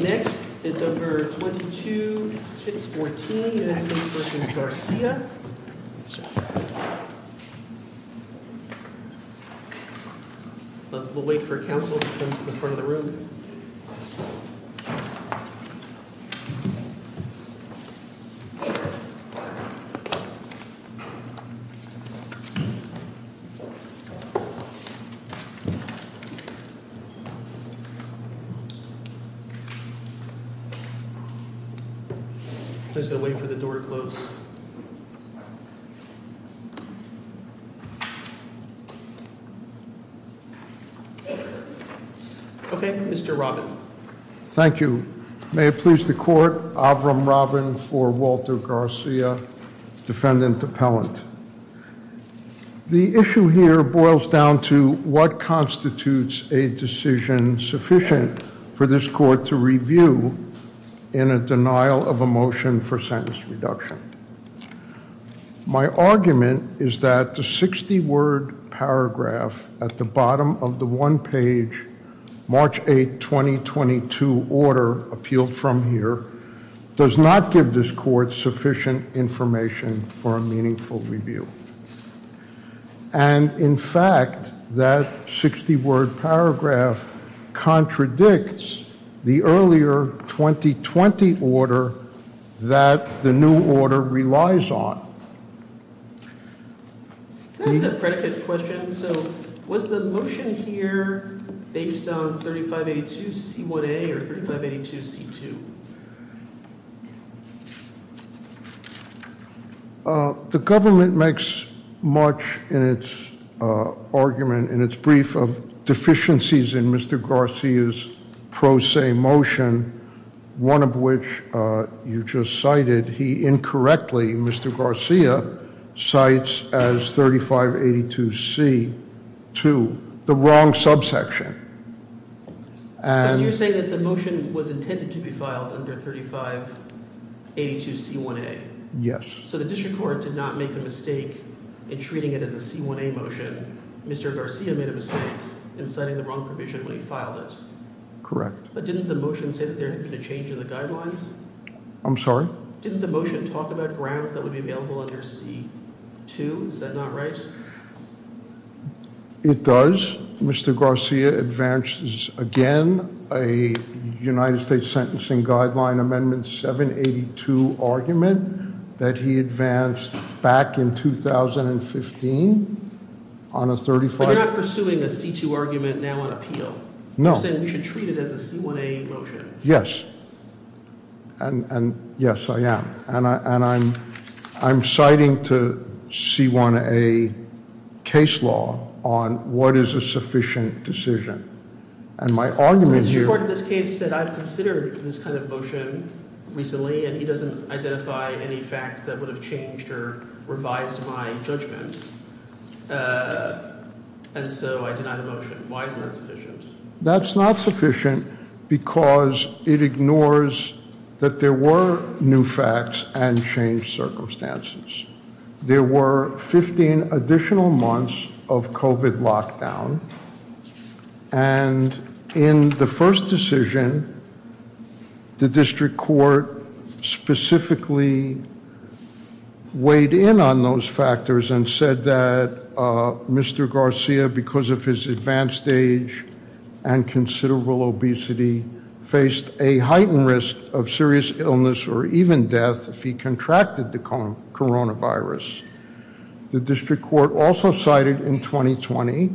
Next is number 22-614, an act in support of v. Garcia. We'll wait for counsel to come to the front of the room. Please go wait for the door to close. Okay, Mr. Robbin. Thank you. May it please the court, Avram Robbin for Walter Garcia, defendant appellant. The issue here boils down to what constitutes a decision sufficient for this court to review in a denial of a motion for sentence reduction. My argument is that the 60-word paragraph at the bottom of the one-page March 8, 2022 order appealed from here does not give this court sufficient information for a meaningful review. And in fact, that 60-word paragraph contradicts the earlier 2020 order that the new order relies on. Can I ask a predicate question? So was the motion here based on 3582C1A or 3582C2? The government makes much in its argument, in its brief, of deficiencies in Mr. Garcia's pro se motion, one of which you just cited. He incorrectly, Mr. Garcia, cites as 3582C2, the wrong subsection. So you're saying that the motion was intended to be filed under 3582C1A? Yes. So the district court did not make a mistake in treating it as a C1A motion. Mr. Garcia made a mistake in citing the wrong provision when he filed it. Correct. But didn't the motion say that there had been a change in the guidelines? I'm sorry? Didn't the motion talk about grounds that would be available under C2? Is that not right? It does. Mr. Garcia advances again a United States Sentencing Guideline Amendment 782 argument that he advanced back in 2015 on a 35- But you're not pursuing a C2 argument now on appeal. No. You're saying we should treat it as a C1A motion. And yes, I am. And I'm citing to C1A case law on what is a sufficient decision. And my argument here- So the district court in this case said, I've considered this kind of motion recently, and he doesn't identify any facts that would have changed or revised my judgment. And so I deny the motion. Why is that sufficient? That's not sufficient because it ignores that there were new facts and changed circumstances. There were 15 additional months of COVID lockdown. And in the first decision, the district court specifically weighed in on those factors and said that Mr. Garcia, because of his advanced age and considerable obesity, faced a heightened risk of serious illness or even death if he contracted the coronavirus. The district court also cited in 2020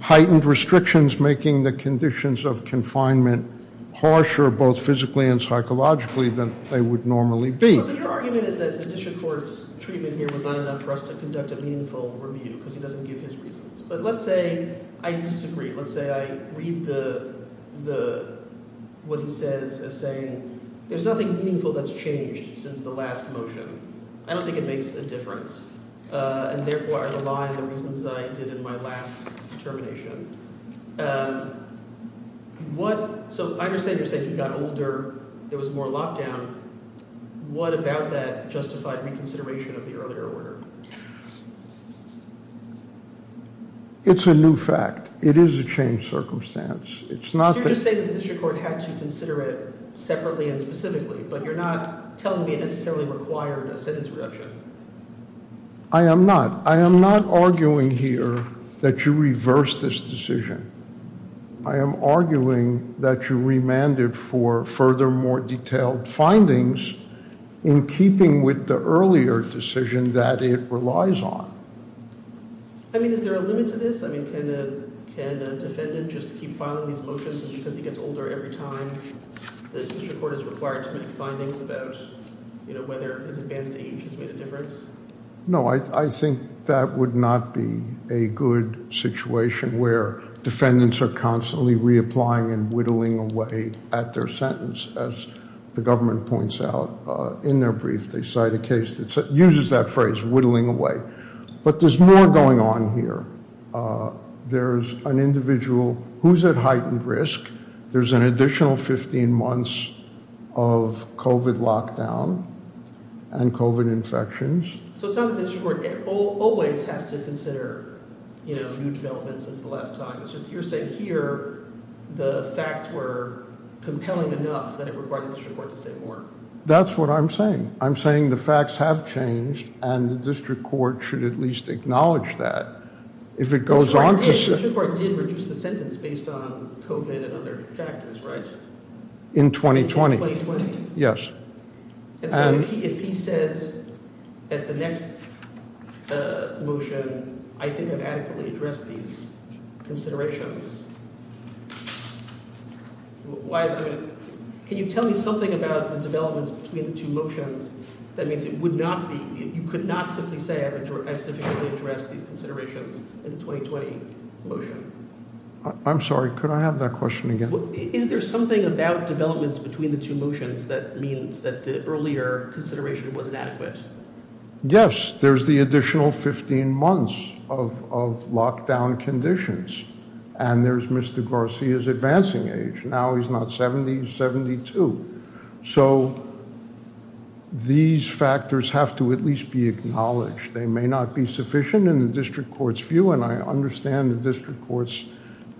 heightened restrictions making the conditions of confinement harsher, both physically and psychologically, than they would normally be. So your argument is that the district court's treatment here was not enough for us to conduct a meaningful review because he doesn't give his reasons. But let's say I disagree. Let's say I read the – what he says as saying there's nothing meaningful that's changed since the last motion. I don't think it makes a difference, and therefore I rely on the reasons I did in my last determination. What – so I understand you're saying he got older. There was more lockdown. What about that justified reconsideration of the earlier order? It's a new fact. It is a changed circumstance. It's not that – So you're just saying that the district court had to consider it separately and specifically, but you're not telling me it necessarily required a sentence reduction. I am not. I am not arguing here that you reversed this decision. I am arguing that you remanded for further more detailed findings in keeping with the earlier decision that it relies on. I mean, is there a limit to this? I mean, can a defendant just keep filing these motions because he gets older every time the district court is required to make findings about whether his advanced age has made a difference? No, I think that would not be a good situation where defendants are constantly reapplying and whittling away at their sentence. As the government points out in their brief, they cite a case that uses that phrase, whittling away. But there's more going on here. There's an individual who's at heightened risk. There's an additional 15 months of COVID lockdown and COVID infections. So it's not that the district court always has to consider new developments since the last time. It's just you're saying here the facts were compelling enough that it required the district court to say more. That's what I'm saying. I'm saying the facts have changed and the district court should at least acknowledge that. The district court did reduce the sentence based on COVID and other factors, right? In 2020. In 2020? Yes. If he says at the next motion, I think I've adequately addressed these considerations. Can you tell me something about the developments between the two motions? That means it would not be, you could not simply say I've sufficiently addressed these considerations in the 2020 motion. I'm sorry. Could I have that question again? Is there something about developments between the two motions that means that the earlier consideration wasn't adequate? Yes. There's the additional 15 months of lockdown conditions. And there's Mr. Garcia's advancing age. Now he's not 70, he's 72. So these factors have to at least be acknowledged. They may not be sufficient in the district court's view, and I understand the district court's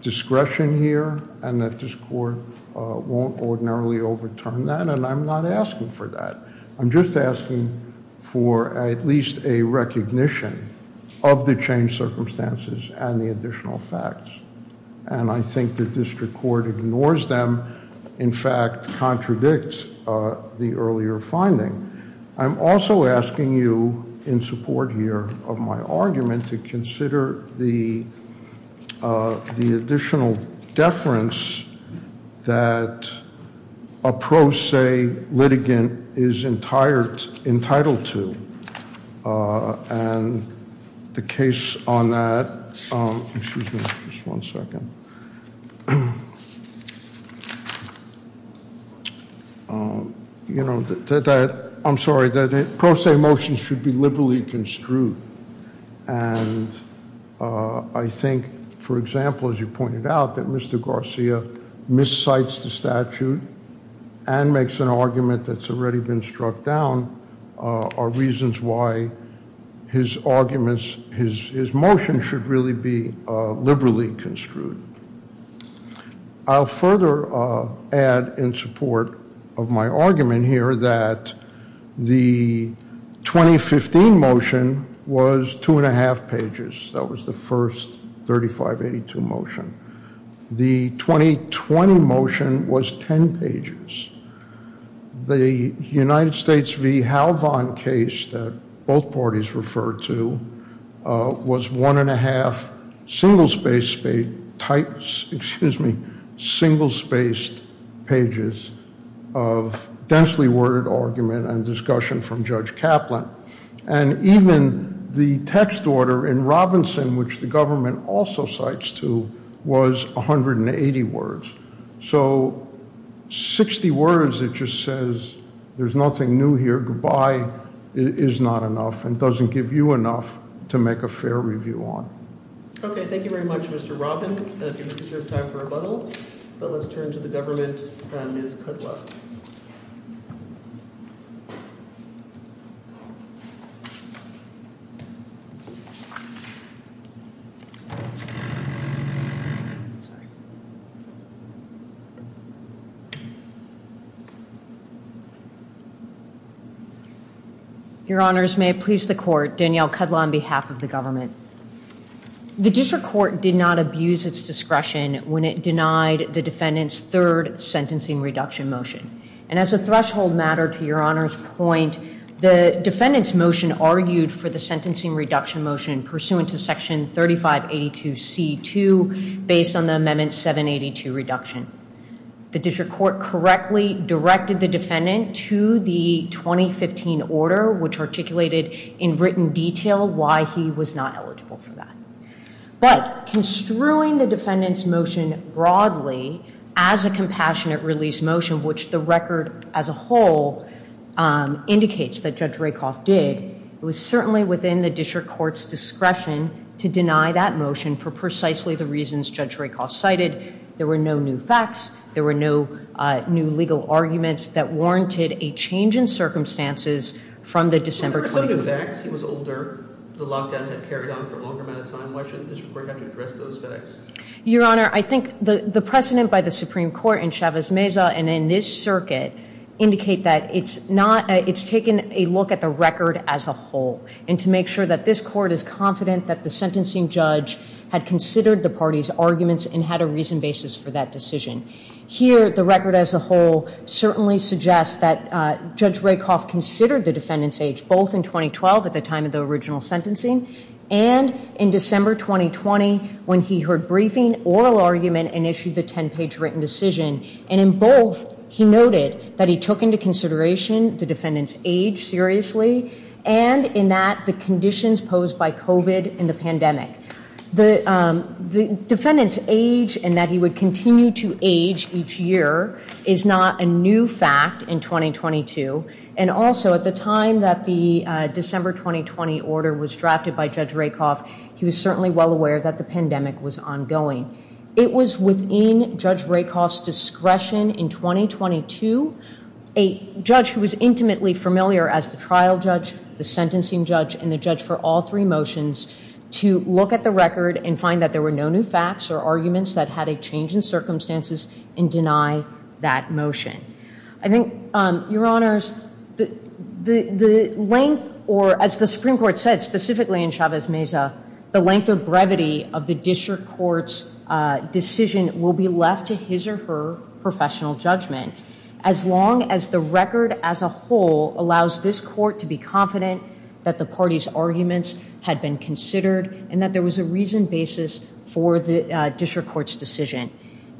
discretion here, and that this court won't ordinarily overturn that, and I'm not asking for that. I'm just asking for at least a recognition of the changed circumstances and the additional facts. And I think the district court ignores them, in fact contradicts the earlier finding. I'm also asking you in support here of my argument to consider the additional deference that a pro se litigant is entitled to. And the case on that, excuse me just one second. You know, I'm sorry. Pro se motions should be liberally construed. And I think, for example, as you pointed out, that Mr. Garcia miscites the statute and makes an argument that's already been struck down are reasons why his arguments, his motion should really be liberally construed. I'll further add in support of my argument here that the 2015 motion was two and a half pages. That was the first 3582 motion. The 2020 motion was ten pages. The United States v. Halvon case that both parties referred to was one and a half single spaced pages of densely worded argument and discussion from Judge Kaplan. And even the text order in Robinson, which the government also cites to, was 180 words. So 60 words, it just says there's nothing new here. Saying good-bye is not enough and doesn't give you enough to make a fair review on. Okay, thank you very much, Mr. Robin. I think it's time for a rebuttal. But let's turn to the government, Ms. Kudlow. Your Honors, may it please the Court, Danielle Kudlow on behalf of the government. The district court did not abuse its discretion when it denied the defendant's third sentencing reduction motion. And as a threshold matter to Your Honor's point, the defendant's motion argued for the sentencing reduction motion pursuant to Section 3582C2 based on the Amendment 782 reduction. The district court correctly directed the defendant to the 2015 order, which articulated in written detail why he was not eligible for that. But construing the defendant's motion broadly as a compassionate release motion, which the record as a whole indicates that Judge Rakoff did, it was certainly within the district court's discretion to deny that motion for precisely the reasons Judge Rakoff cited. There were no new facts. There were no new legal arguments that warranted a change in circumstances from the December 20th- Were there some new facts? He was older. The lockdown had carried on for a longer amount of time. Why should the district court have to address those facts? Your Honor, I think the precedent by the Supreme Court in Chavez Meza and in this circuit indicate that it's taken a look at the record as a whole and to make sure that this court is confident that the sentencing judge had considered the party's arguments and had a reason basis for that decision. Here, the record as a whole certainly suggests that Judge Rakoff considered the defendant's age both in 2012 at the time of the original sentencing and in December 2020 when he heard briefing, oral argument, and issued the 10-page written decision. And in both, he noted that he took into consideration the defendant's age seriously and in that the conditions posed by COVID and the pandemic. The defendant's age and that he would continue to age each year is not a new fact in 2022. And also, at the time that the December 2020 order was drafted by Judge Rakoff, he was certainly well aware that the pandemic was ongoing. It was within Judge Rakoff's discretion in 2022. A judge who was intimately familiar as the trial judge, the sentencing judge, and the judge for all three motions to look at the record and find that there were no new facts or arguments that had a change in circumstances and deny that motion. I think, Your Honors, the length or as the Supreme Court said, specifically in Chavez Meza, the length of brevity of the district court's decision will be left to his or her professional judgment. As long as the record as a whole allows this court to be confident that the party's arguments had been considered and that there was a reasoned basis for the district court's decision.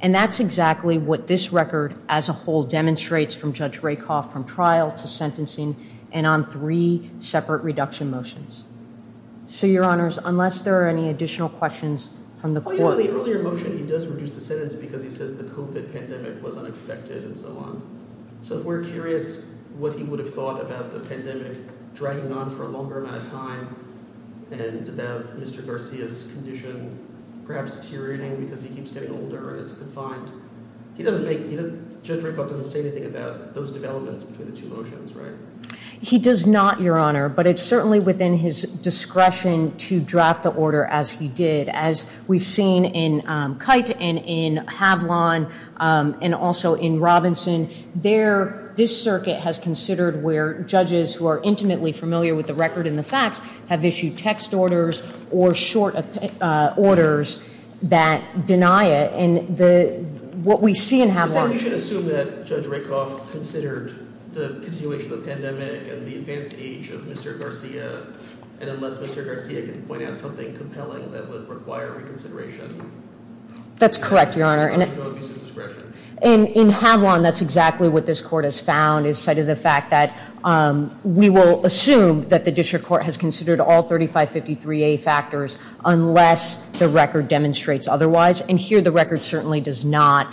And that's exactly what this record as a whole demonstrates from Judge Rakoff from trial to sentencing and on three separate reduction motions. So, Your Honors, unless there are any additional questions from the court. In the earlier motion, he does reduce the sentence because he says the COVID pandemic was unexpected and so on. So, if we're curious what he would have thought about the pandemic dragging on for a longer amount of time and about Mr. Garcia's condition perhaps deteriorating because he keeps getting older and is confined. He doesn't make, Judge Rakoff doesn't say anything about those developments between the two motions, right? He does not, Your Honor, but it's certainly within his discretion to draft the order as he did. As we've seen in Kite and in Havlon and also in Robinson, this circuit has considered where judges who are intimately familiar with the record and the facts have issued text orders or short orders that deny it. And what we see in Havlon. And unless Mr. Garcia can point out something compelling that would require reconsideration. That's correct, Your Honor. And in Havlon, that's exactly what this court has found is cited the fact that we will assume that the district court has considered all 3553A factors unless the record demonstrates otherwise. And here the record certainly does not.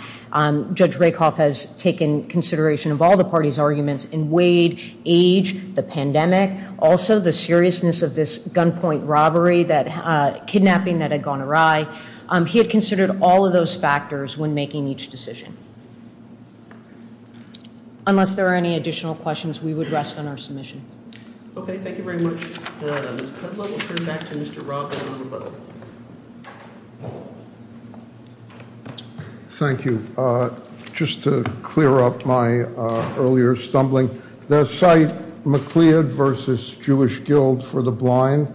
Judge Rakoff has taken consideration of all the parties' arguments in Wade, age, the pandemic, also the seriousness of this gunpoint robbery, kidnapping that had gone awry. He had considered all of those factors when making each decision. Unless there are any additional questions, we would rest on our submission. Okay, thank you very much, Your Honor. Ms. Kudlow, we'll turn back to Mr. Robinson. Thank you. Just to clear up my earlier stumbling, the site McLeod versus Jewish Guild for the Blind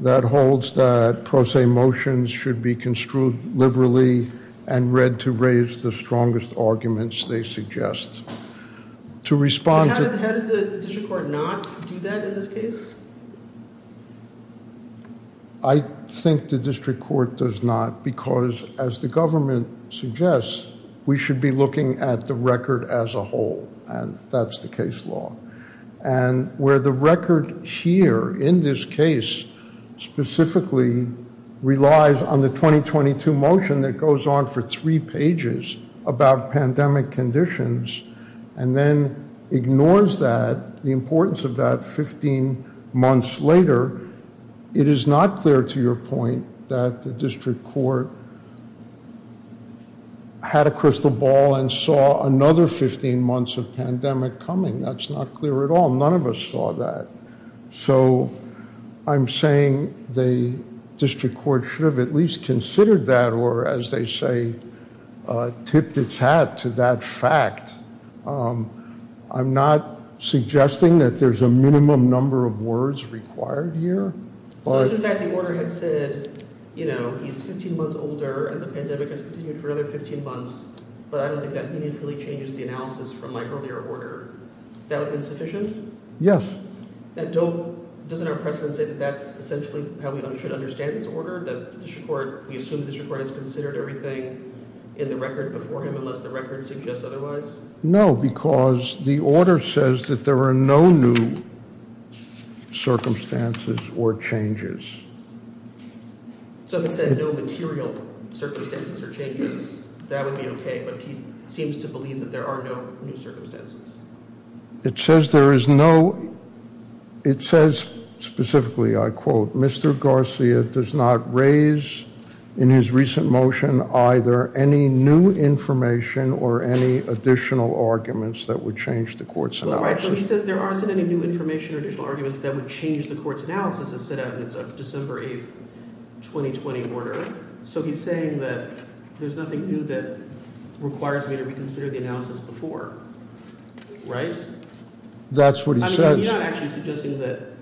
that holds that pro se motions should be construed liberally and read to raise the strongest arguments they suggest. How did the district court not do that in this case? I think the district court does not because, as the government suggests, we should be looking at the record as a whole, and that's the case law. And where the record here in this case specifically relies on the 2022 motion that goes on for three pages about pandemic conditions and then ignores that, the importance of that 15 months later, it is not clear to your point that the district court had a crystal ball and saw another 15 months of pandemic coming. That's not clear at all. None of us saw that. So I'm saying the district court should have at least considered that or, as they say, tipped its hat to that fact. I'm not suggesting that there's a minimum number of words required here. So if, in fact, the order had said, you know, he's 15 months older and the pandemic has continued for another 15 months, but I don't think that meaningfully changes the analysis from my earlier order, that would be insufficient? Yes. Doesn't our precedent say that that's essentially how we should understand this order, that we assume the district court has considered everything in the record before him No, because the order says that there are no new circumstances or changes. So if it said no material circumstances or changes, that would be okay, but he seems to believe that there are no new circumstances. It says there is no, it says specifically, I quote, Mr. Garcia does not raise in his recent motion either any new information or any additional arguments that would change the court's analysis. Right, so he says there aren't any new information or additional arguments that would change the court's analysis as set out in its December 8, 2020 order. So he's saying that there's nothing new that requires me to reconsider the analysis before. Right? That's what he says. I mean, are you not actually suggesting that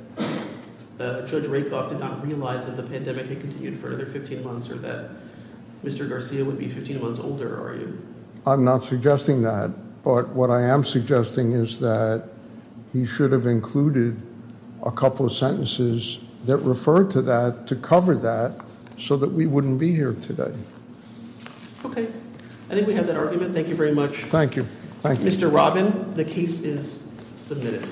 Judge Rakoff did not realize that the pandemic had continued for another 15 months, or that Mr. Garcia would be 15 months older? I'm not suggesting that. But what I am suggesting is that he should have included a couple of sentences that refer to that to cover that so that we wouldn't be here today. Okay, I think we have that argument. Thank you very much. Thank you. Mr. Robin, the case is submitted.